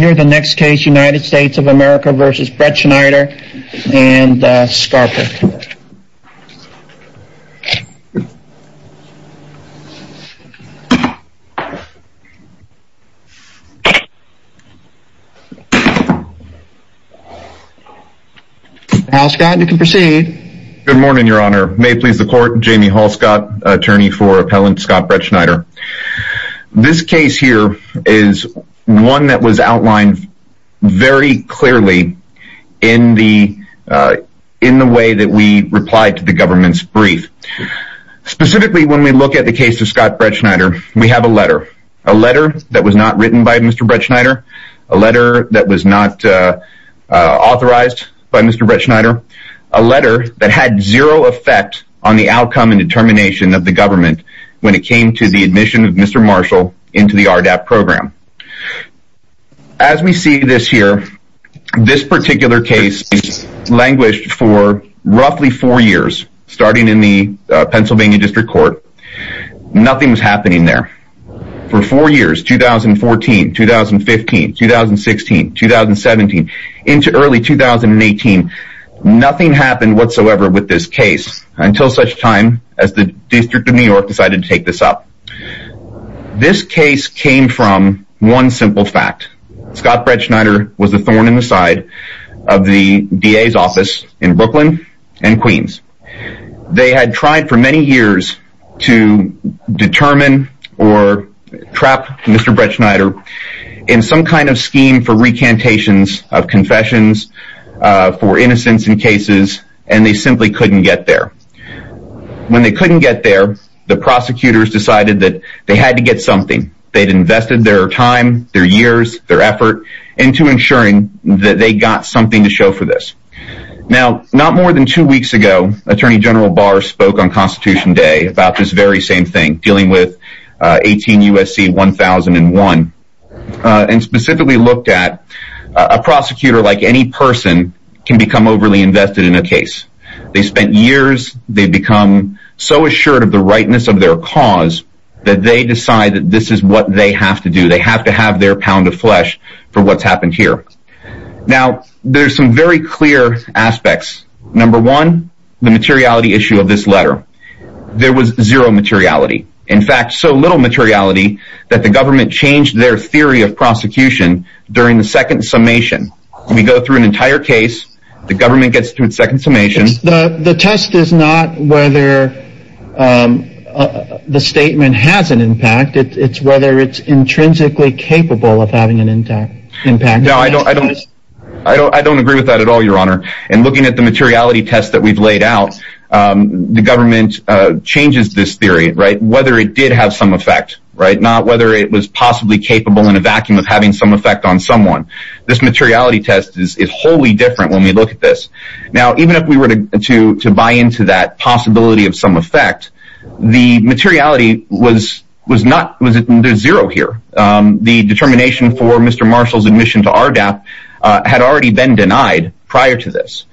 United States v. Brettschneider very clearly in the way that we replied to the government's brief. Specifically, when we look at the case of Scott Brettschneider, we have a letter. A letter that was not written by Mr. Brettschneider, a letter that was not authorized by Mr. Brettschneider, a letter that had zero effect on the outcome and determination of the government when it came to the admission of Mr. Marshall into the RDAP program. As we see this here, this particular case languished for roughly four years, starting in the Pennsylvania District Court. Nothing was happening there. For four years, 2014, 2015, 2016, 2017, into early 2018, nothing happened whatsoever with this case, until such time as the District of New York decided to take this up. This case came from one simple fact. Scott Brettschneider was a thorn in the side of the DA's office in Brooklyn and Queens. They had tried for many years to determine or trap Mr. Brettschneider in some kind of scheme for recantations of confessions for innocents in cases, and they simply couldn't get there. When they couldn't get there, the prosecutors decided that they had to get something. They had invested their time, their years, their effort into ensuring that they got something to show for this. Now, not more than two weeks ago, Attorney General Barr spoke on Constitution Day about this very same thing, dealing with 18 U.S.C. 1001, and specifically looked at a prosecutor like any person can become overly invested in a case. They spent years, they've become so assured of the rightness of their cause that they decide that this is what they have to do. They have to have their pound of flesh for what's happened here. Now, there's some very clear aspects. Number one, the materiality issue of this letter. There was zero materiality. In fact, so little materiality that the government changed their theory of prosecution during the second summation. We go through an entire case, the government gets through its second summation. The test is not whether the statement has an impact, it's whether it's intrinsically capable of having an impact. No, I don't agree with that at all, Your Honor. And looking at the materiality test that we've laid out, the government changes this theory, whether it did have some effect, not whether it was possibly capable in a vacuum of having some effect on someone. This materiality test is wholly different when we look at this. Now, even if we were to buy into that possibility of some effect, the materiality was zero here. The determination for Mr. Marshall's admission to RDAP had already been denied prior to this.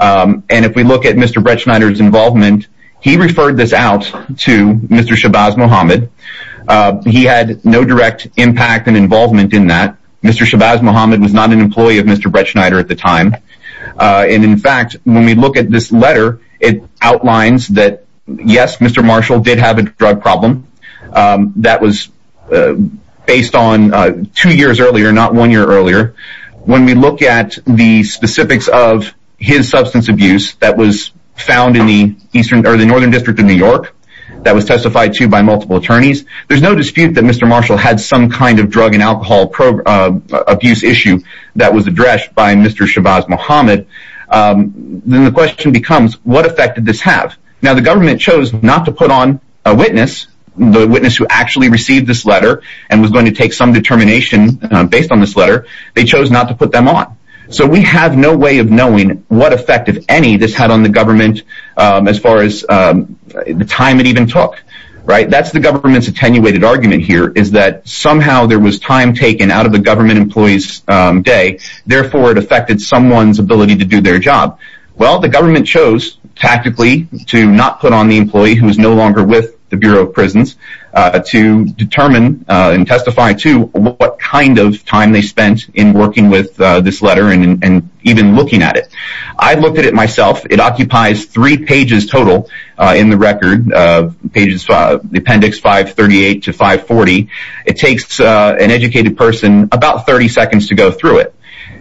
And if we look at Mr. Bretschneider's involvement, he referred this out to Mr. Shabazz Mohamed. He had no direct impact and involvement in that. Mr. Shabazz Mohamed was not an employee of Mr. Bretschneider at the time. And in fact, when we look at this letter, it outlines that, yes, Mr. Marshall did have a drug problem. That was based on two years earlier, not one year earlier. When we look at the specifics of his substance abuse that was found in the northern district of New York, that was testified to by multiple attorneys, there's no dispute that Mr. Marshall had some kind of drug and alcohol abuse issue that was addressed by Mr. Shabazz Mohamed. Then the question becomes, what effect did this have? Now, the government chose not to put on a witness, the witness who actually received this letter and was going to take some determination based on this letter, they chose not to put them on. So we have no way of knowing what effect, if any, this had on the government as far as the time it even took, right? That's the government's attenuated argument here, is that somehow there was time taken out of the government employee's day, therefore it affected someone's ability to do their job. Well, the government chose tactically to not put on the employee who was no longer with the Bureau of Prisons to determine and testify to what kind of time they spent in working with this letter and even looking at it. I looked at it myself, it occupies three pages total in the record, the appendix 538 to 540. It takes an educated person about 30 seconds to go through it.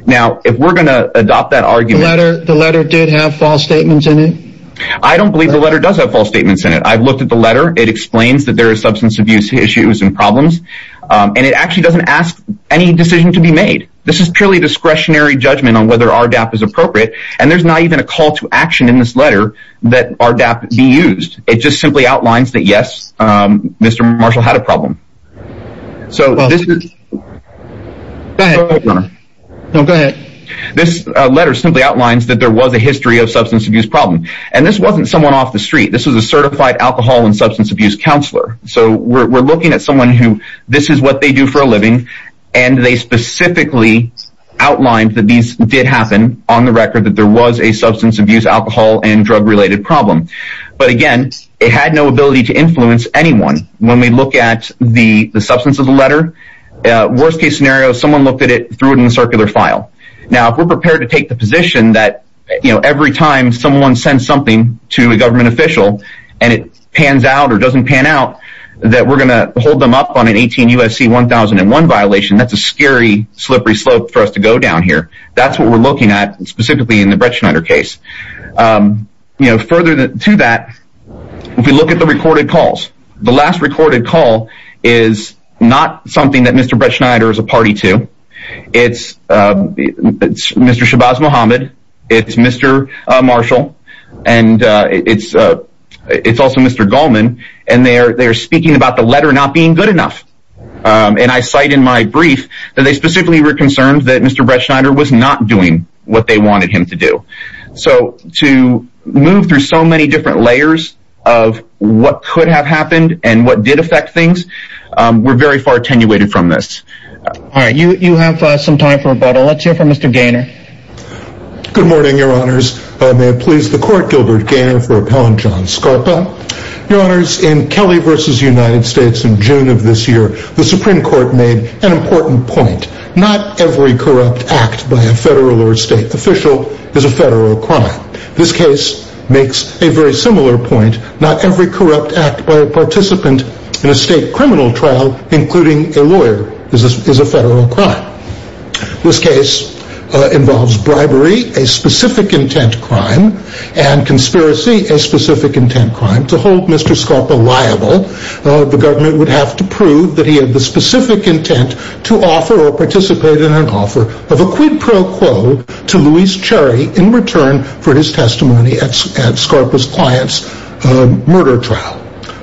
Now, if we're going to adopt that argument... The letter did have false statements in it? I don't believe the letter does have false statements in it. I've looked at the letter, it explains that there are substance abuse issues and problems, and it actually doesn't ask any decision to be made. This is purely discretionary judgment on whether RDAP is appropriate and there's not even a call to action in this letter that RDAP be used. It just simply outlines that yes, Mr. Marshall had a problem. So this is... Go ahead. Go ahead, Governor. No, go ahead. This letter simply outlines that there was a history of substance abuse problem. And this wasn't someone off the street. This was a certified alcohol and substance abuse counselor. So we're looking at someone who, this is what they do for a living, and they specifically outlined that these did happen on the record that there was a substance abuse, alcohol and drug related problem. But again, it had no ability to influence anyone. When we look at the substance of the letter, worst case scenario, someone looked at it, threw it in a circular file. Now, if we're prepared to take the position that, you know, every time someone sends something to a government official and it pans out or doesn't pan out, that we're going to hold them up on an 18 USC 1001 violation, that's a scary, slippery slope for us to go down here. That's what we're looking at specifically in the Bretschneider case. You know, further to that, if we look at the recorded calls, the last recorded call is not something that Mr. Bretschneider is a party to. It's Mr. Shabazz Muhammad. It's Mr. Marshall. And it's, it's also Mr. Goldman. And they're, they're speaking about the letter not being good enough. And I cite in my brief, that they specifically were concerned that Mr. Bretschneider was not doing what they wanted him to do. So to move through so many different layers of what could have happened and what did affect things, we're very far attenuated from this. All right. You, you have some time for rebuttal. Let's hear from Mr. Gaynor. Good morning, your honors. May it please the court, Gilbert Gaynor for Appellant John Scarpa. Your honors, in Kelly versus United States in June of this year, the Supreme Court made an important point. Not every corrupt act by a federal or state official is a federal crime. This case makes a very similar point. Not every corrupt act by a participant in a state criminal trial, including a lawyer, is a, is a federal crime. This case involves bribery, a specific intent crime, and conspiracy, a specific intent crime. To hold Mr. Scarpa liable, the government would have to prove that he had the specific intent to offer or return for his testimony at Scarpa's client's murder trial.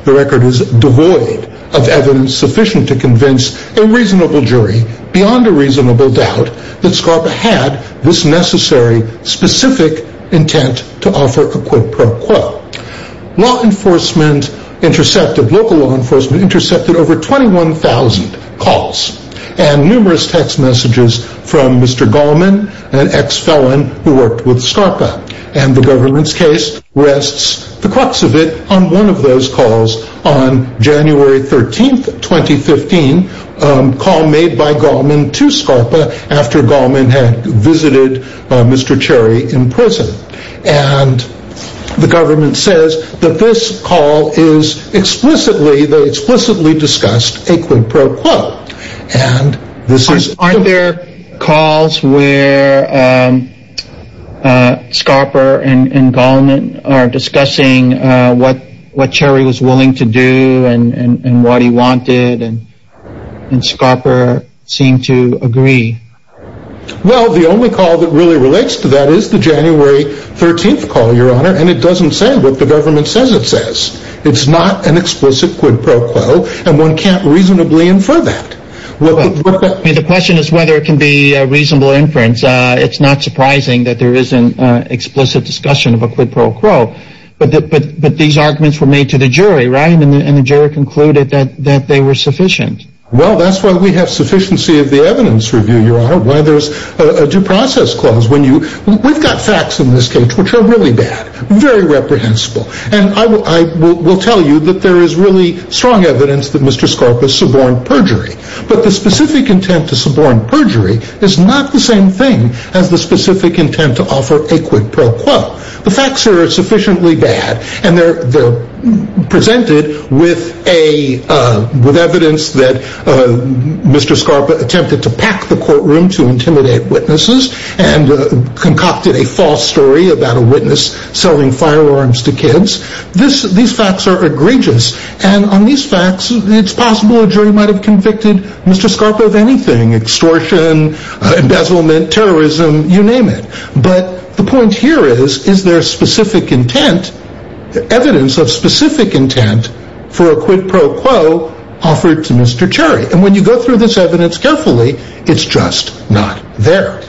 The record is devoid of evidence sufficient to convince a reasonable jury beyond a reasonable doubt that Scarpa had this necessary specific intent to offer a quid pro quo. Law enforcement intercepted, local law enforcement intercepted over 21,000 calls and numerous text messages from Mr. Gallman, an ex-felon who worked with Scarpa. And the government's case rests the crux of it on one of those calls on January 13th, 2015, a call made by Gallman to Scarpa after Gallman had visited Mr. Cherry in prison. And the government says that this call is explicitly, they explicitly discussed a quid pro quo. And this is... Aren't there calls where, um, uh, Scarpa and, and Gallman are discussing, uh, what, what Cherry was willing to do and, and, and what he wanted, and, and Scarpa seemed to agree? Well the only call that really relates to that is the January 13th call, your honor, and it doesn't say what the government says it says. It's not an explicit quid pro quo and one can't reasonably infer that. Well, I mean the question is whether it can be a reasonable inference. Uh, it's not surprising that there isn't, uh, explicit discussion of a quid pro quo, but, but, but these arguments were made to the jury, right? And the, and the jury concluded that, that they were sufficient. Well that's why we have sufficiency of the evidence review, your honor, why there's a process clause when you, we've got facts in this case which are really bad, very reprehensible, and I will, I will, will tell you that there is really strong evidence that Mr. Scarpa suborned perjury, but the specific intent to suborn perjury is not the same thing as the specific intent to offer a quid pro quo. The facts are sufficiently bad and they're, they're presented with a, uh, with evidence that, uh, Mr. Scarpa attempted to pack the witnesses and, uh, concocted a false story about a witness selling firearms to kids. This, these facts are egregious and on these facts it's possible a jury might have convicted Mr. Scarpa of anything, extortion, embezzlement, terrorism, you name it. But the point here is, is there specific intent, evidence of specific intent for a quid pro quo offered to Mr. Cherry. And when you go through this evidence carefully, it's just not there.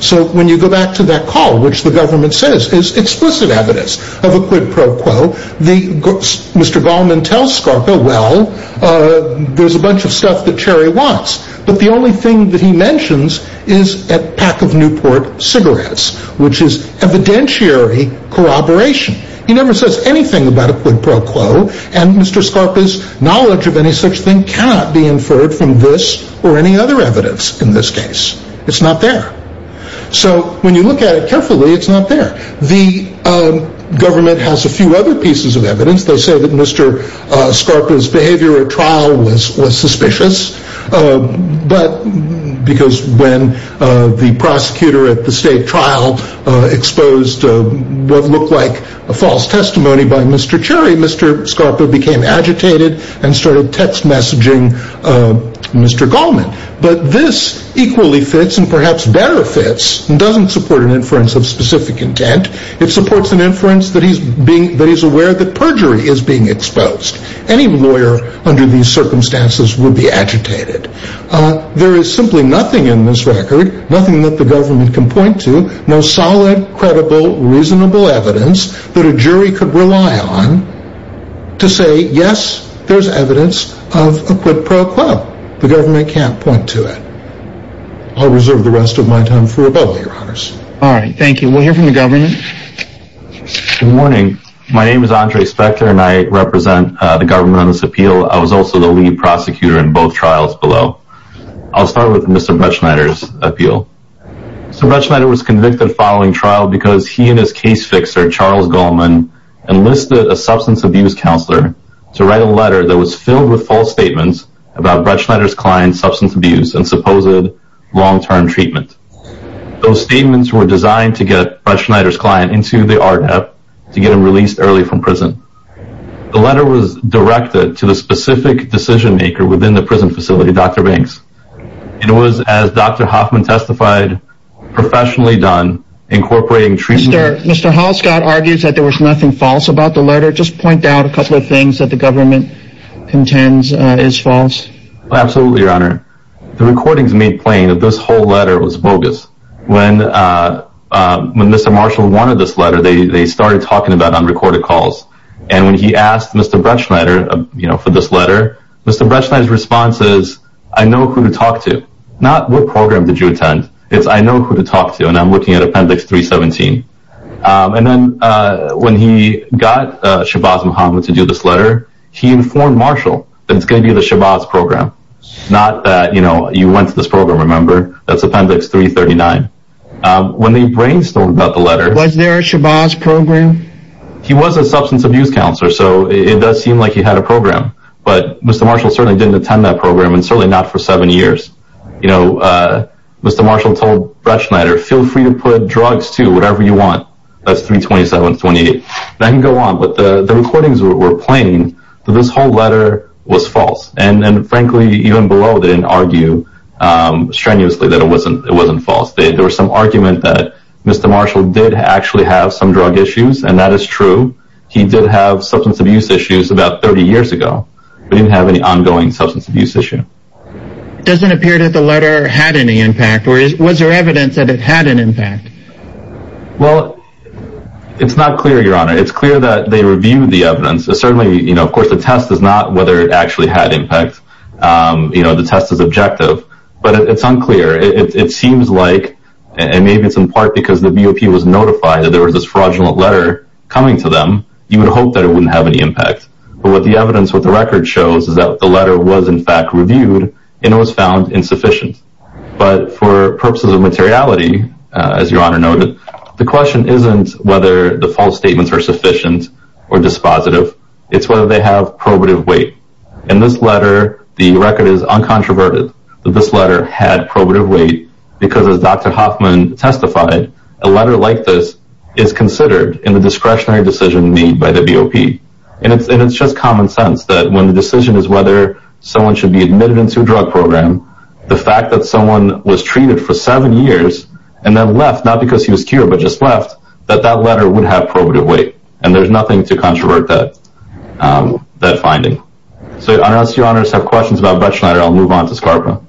So when you go back to that call, which the government says is explicit evidence of a quid pro quo, the, Mr. Gallman tells Scarpa, well, uh, there's a bunch of stuff that Cherry wants, but the only thing that he mentions is a pack of Newport cigarettes, which is evidentiary corroboration. He never says anything about a quid pro quo and Mr. Scarpa's knowledge of any such thing cannot be inferred from this or any other evidence in this case. It's not there. So when you look at it carefully, it's not there. The, um, government has a few other pieces of evidence. They say that Mr. Scarpa's behavior at trial was, was suspicious. Um, but because when, uh, the prosecutor at the state trial, uh, exposed, uh, what looked like a false testimony by Mr. Cherry, Mr. Scarpa became agitated and started text messaging, uh, Mr. Gallman. But this equally fits and perhaps better fits and doesn't support an inference of specific intent. It supports an inference that he's being, that he's aware that perjury is being exposed. Any lawyer under these circumstances would be agitated. Uh, there is simply nothing in this record, nothing that the government can point to, no solid, credible, reasonable evidence that a jury could rely on to say, yes, there's evidence of a quid pro quo. The government can't point to it. I'll reserve the rest of my time for rebuttal, your honors. All right. Thank you. We'll hear from the government. Good morning. My name is Andre Spector and I represent the government on this appeal. I was also the lead prosecutor in both trials below. I'll start with Mr. Bretschneider's appeal. So Bretschneider was a case fixer, Charles Gallman enlisted a substance abuse counselor to write a letter that was filled with false statements about Bretschneider's client's substance abuse and supposed long-term treatment. Those statements were designed to get Bretschneider's client into the RDEF to get him released early from prison. The letter was directed to the specific decision maker within the prison facility, Dr. Banks. It was as Dr. Hoffman testified professionally done incorporating treatment. Mr. Halscott argues that there was nothing false about the letter. Just point out a couple of things that the government contends is false. Absolutely, your honor. The recordings made plain that this whole letter was bogus. When Mr. Marshall wanted this letter, they started talking about unrecorded calls. And when he asked Mr. Bretschneider for this letter, Mr. Bretschneider's response is, I know who to talk to. Not, what program did you attend? It's, I know who to talk to. And I'm looking at appendix 317. And then when he got Shabazz Mohamed to do this letter, he informed Marshall that it's going to be the Shabazz program. Not that, you know, you went to this program, remember? That's appendix 339. When they brainstormed about the letter. Was there a Shabazz program? He was a substance abuse counselor, so it does seem like he had a program. But Mr. Marshall certainly didn't attend that program, and certainly not for seven years. You know, Mr. Marshall told Bretschneider, feel free to put drugs too, whatever you want. That's 327, 28. And I can go on, but the recordings were plain that this whole letter was false. And frankly, even below, they didn't argue strenuously that it wasn't false. There was some argument that Mr. Marshall did actually have some drug issues, and that is true. He did have substance abuse issues about 30 years ago, but he didn't have any ongoing substance abuse issue. Doesn't appear that the letter had any impact. Was there evidence that it had an impact? Well, it's not clear, Your Honor. It's clear that they reviewed the evidence. Certainly, you know, of course, the test is not whether it actually had impact. You know, the test is objective, but it's unclear. It seems like, and maybe it's in part because the BOP was notified that there was this fraudulent letter coming to them. You would hope that it wouldn't have any impact. But what the evidence with the record shows is that the letter was in fact reviewed, and it was found insufficient. But for purposes of materiality, as Your Honor noted, the question isn't whether the false statements are sufficient or dispositive. It's whether they have probative weight. In this letter, the record is uncontroverted that this letter had probative weight, because as Dr. Hoffman testified, a letter like this is considered in the discretionary decision made by the BOP. And it's just common sense that when the decision is whether someone should be admitted into a drug program, the fact that someone was treated for seven years and then left, not because he was cured, but just left, that that letter would have probative weight. And there's nothing to controvert that finding. So I don't know if you, Your Honor, have questions about Bretschneider. I'll move on to Scarpa.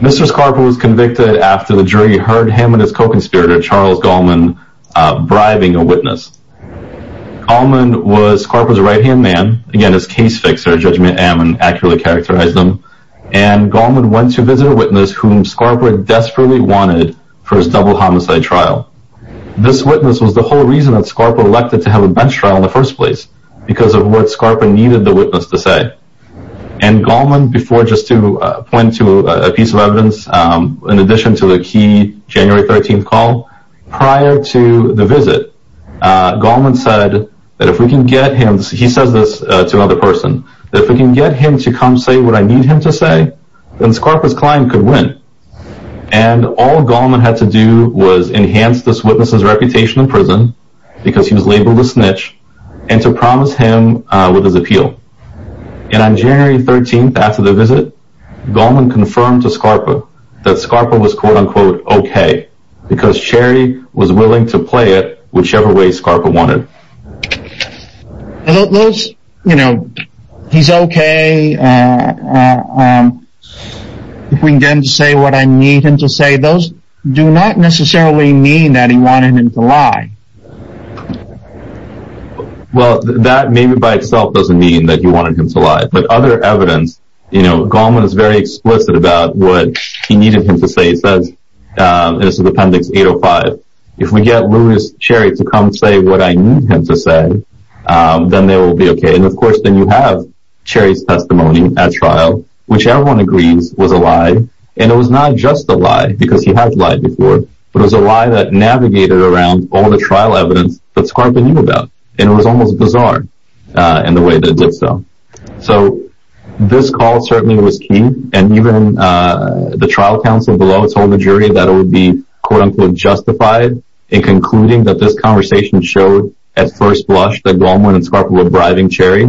Mr. Scarpa was convicted after the jury heard him and his co-conspirator, Charles Gallman, bribing a witness. Gallman was Scarpa's right-hand man. Again, his case fixer, Judgement Ammon, accurately characterized him. And Gallman went to visit a witness whom Scarpa desperately wanted for his double homicide trial. This witness was the whole reason that Scarpa needed the witness to say. And Gallman, before, just to point to a piece of evidence, in addition to the key January 13th call, prior to the visit, Gallman said that if we can get him, he says this to another person, that if we can get him to come say what I need him to say, then Scarpa's client could win. And all Gallman had to do was enhance this witness's reputation in prison, because he was labeled a snitch, and to promise him with his appeal. And on January 13th, after the visit, Gallman confirmed to Scarpa that Scarpa was quote-unquote, okay, because Cherry was willing to play it whichever way Scarpa wanted. Those, you know, he's okay, if we can get him to say what I need him to say, those do not necessarily mean that he wanted him to lie. Well, that maybe by itself doesn't mean that he wanted him to lie. But other evidence, you know, Gallman is very explicit about what he needed him to say. He says, this is Appendix 805, if we get Lewis Cherry to come say what I need him to say, then they will be okay. And of course, then you have Cherry's testimony at trial, which everyone agrees was a lie. And it was not just a lie, because he has lied before, but it was a lie that navigated around all the trial evidence that Scarpa knew about. And it was almost bizarre in the way that it did so. So, this call certainly was key. And even the trial counsel below told the jury that it would be quote-unquote justified in concluding that this conversation showed at first blush that Gallman and Scarpa were bribing Cherry.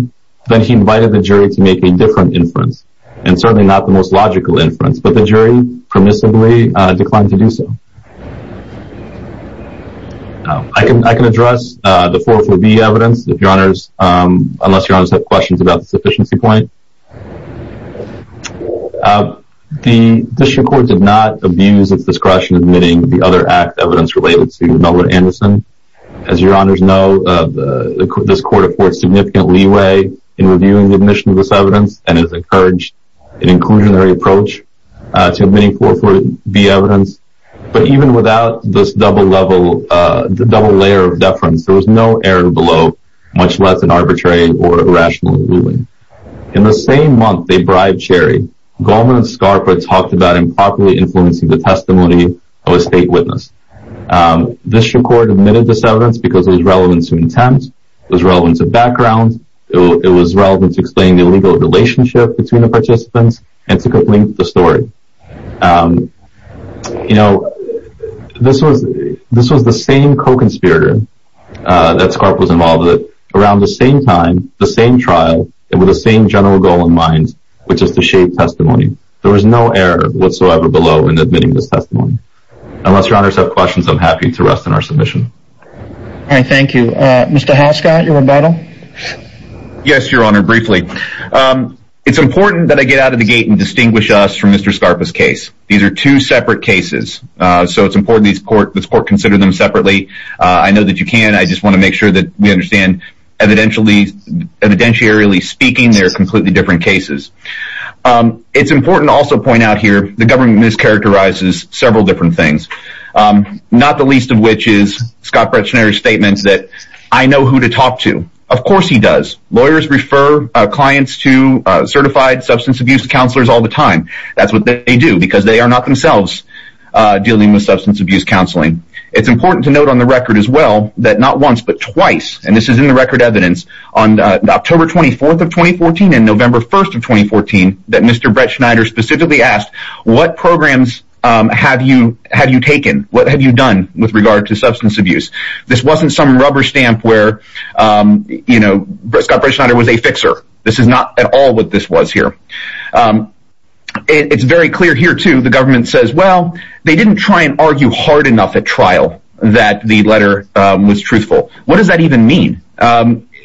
Then he invited the jury to make a different inference, and certainly not the most logical inference, but the jury permissively declined to do so. I can address the 4-4-B evidence, if your honors, unless your honors have questions about the sufficiency point. The district court did not abuse its discretion in admitting the other act evidence related to Melvin Anderson. As your honors know, this court affords significant leeway in reviewing the admission of this an inclusionary approach to admitting 4-4-B evidence. But even without this double layer of deference, there was no error below, much less an arbitrary or irrational ruling. In the same month they bribed Cherry, Gallman and Scarpa talked about improperly influencing the testimony of a state witness. The district court admitted this evidence because it was relevant to intent, it was relevant to background, it was relevant to explaining the illegal relationship between the participants, and to complete the story. This was the same co-conspirator that Scarpa was involved with around the same time, the same trial, and with the same general goal in mind, which is to shape testimony. There was no error whatsoever below in admitting this testimony. Unless your honors have questions, I'm happy to rest in our submission. Thank you. Mr. Haskot, your rebuttal? Yes, your honor, briefly. It's important that I get out of the gate and distinguish us from Mr. Scarpa's case. These are two separate cases, so it's important that this court consider them separately. I know that you can, I just want to make sure that we understand that evidentiarily speaking, they are completely different cases. It's important to also point out here, the government mischaracterizes several different things. Not the least of which is Scott Bretschneider's statements that I know who to talk to. Of course he does. Lawyers refer clients to certified substance abuse counselors all the time. That's what they do, because they are not themselves dealing with substance abuse counseling. It's important to note on the record as well, that not once, but twice, and this is in the record evidence, on October 24th of 2014 and November 1st of 2014, that Mr. Bretschneider specifically asked, what programs have you taken? What have you done with regard to substance abuse? This wasn't some rubber stamp where, you know, Scott Bretschneider was a fixer. This is not at all what this was here. It's very clear here too, the government says, well, they didn't try and argue hard enough at trial that the letter was truthful. What does that even mean?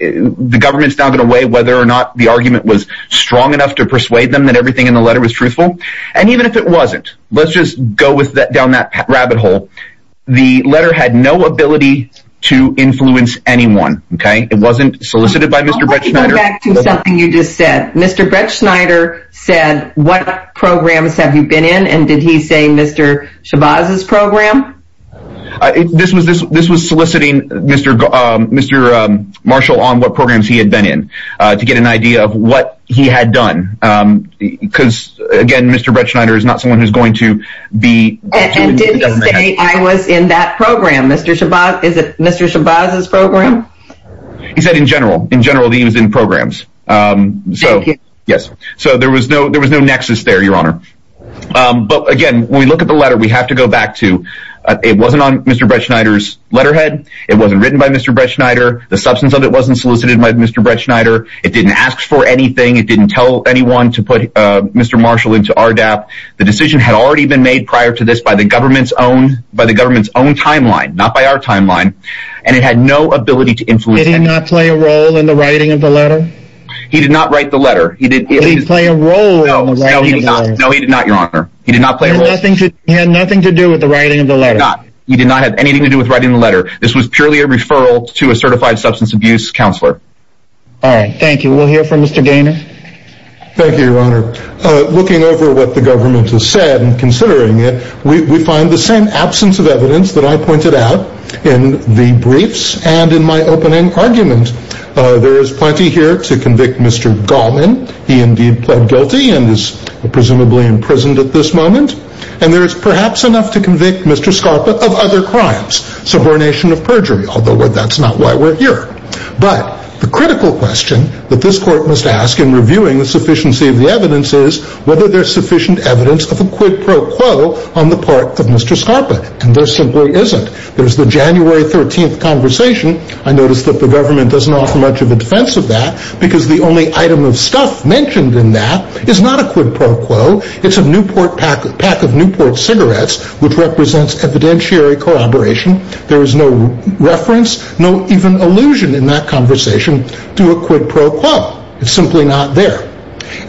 The government's not going to weigh whether or not the argument was strong enough to persuade them that everything in the letter was truthful. And even if it wasn't, let's just go down that rabbit hole. The letter had no ability to influence anyone, okay? It wasn't solicited by Mr. Bretschneider. Let me go back to something you just said. Mr. Bretschneider said, what programs have you been in? And did he say Mr. Shabazz's program? This was soliciting Mr. Marshall on what programs he had been in to get an idea of what he had done. Because again, Mr. Bretschneider is not someone who's going to be... And did he say I was in that program, Mr. Shabazz's program? He said in general, in general that he was in programs. So, yes. So there was no nexus there, Your Honor. But again, when we look at the letter, we have to go back to, it wasn't on Mr. Bretschneider's letterhead. It wasn't written by Mr. Bretschneider. The substance of it wasn't solicited by Mr. Bretschneider. It didn't ask for anything. It didn't tell anyone to put Mr. Marshall into RDAP. The decision had already been made prior to this by the government's own timeline, not by our timeline. And it had no ability to influence anyone. Did he not play a role in the writing of the letter? He did not write the letter. Did he play a role in the writing of the letter? No, he did not, Your Honor. He did not play a role. He had nothing to do with the writing of the letter? He did not have anything to do with writing the letter. This was purely a referral to a certified substance abuse counselor. All right. Thank you. We'll hear from Mr. Gaynor. Thank you, Your Honor. Looking over what the government has said and considering it, we find the same absence of evidence that I pointed out in the briefs and in my opening argument. There is plenty here to convict Mr. Gallman. He indeed pled guilty and is presumably imprisoned at this moment. And there is perhaps enough to convict Mr. Scarpa of other crimes, subordination of perjury, although that's not why we're here. But the critical question that this court must ask in reviewing the sufficiency of the evidence is whether there's sufficient evidence of a quid pro quo on the part of Mr. Scarpa. And there simply isn't. There's the January 13th conversation. I noticed that the government doesn't offer much of a defense of that, because the only item of stuff mentioned in that is not a quid pro quo. It's a Newport pack of Newport cigarettes, which represents evidentiary corroboration. There is no reference, no even allusion in that conversation to a quid pro quo. It's simply not there.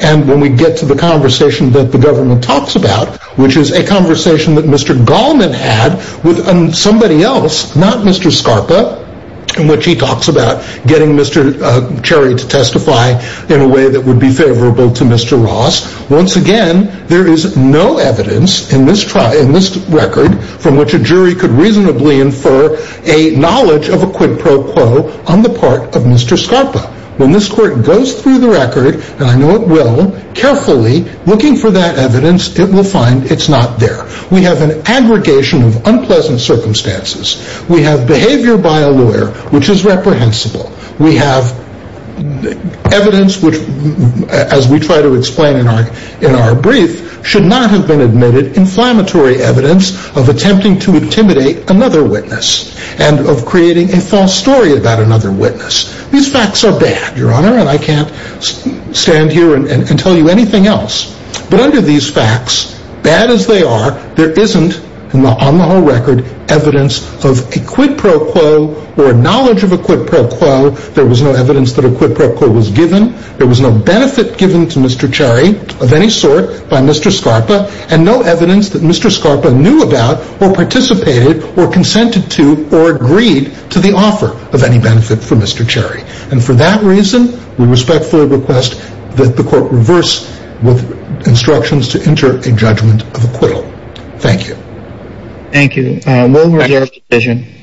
And when we get to the conversation that the government talks about, which is a conversation that Mr. Gallman had with somebody else, not Mr. Scarpa, in which he talks about getting Mr. Cherry to testify in a way that would be favorable to Mr. Ross, once again, there is no evidence in this record from which a jury could reasonably infer a knowledge of a quid pro quo on the part of Mr. Scarpa. When this court goes through the record, and I know it will, carefully looking for that we have an aggregation of unpleasant circumstances. We have behavior by a lawyer, which is reprehensible. We have evidence which, as we try to explain in our brief, should not have been admitted inflammatory evidence of attempting to intimidate another witness, and of creating a false story about another witness. These facts are bad, Your Honor, and I can't stand here and tell you anything else. But under these facts, bad as they are, there isn't, on the whole record, evidence of a quid pro quo or knowledge of a quid pro quo. There was no evidence that a quid pro quo was given. There was no benefit given to Mr. Cherry of any sort by Mr. Scarpa, and no evidence that Mr. Scarpa knew about or participated or consented to or agreed to the offer of any benefit for Mr. Cherry. And for that reason, we respectfully request that the court reverse with instructions to enter a judgment of acquittal. Thank you. Thank you.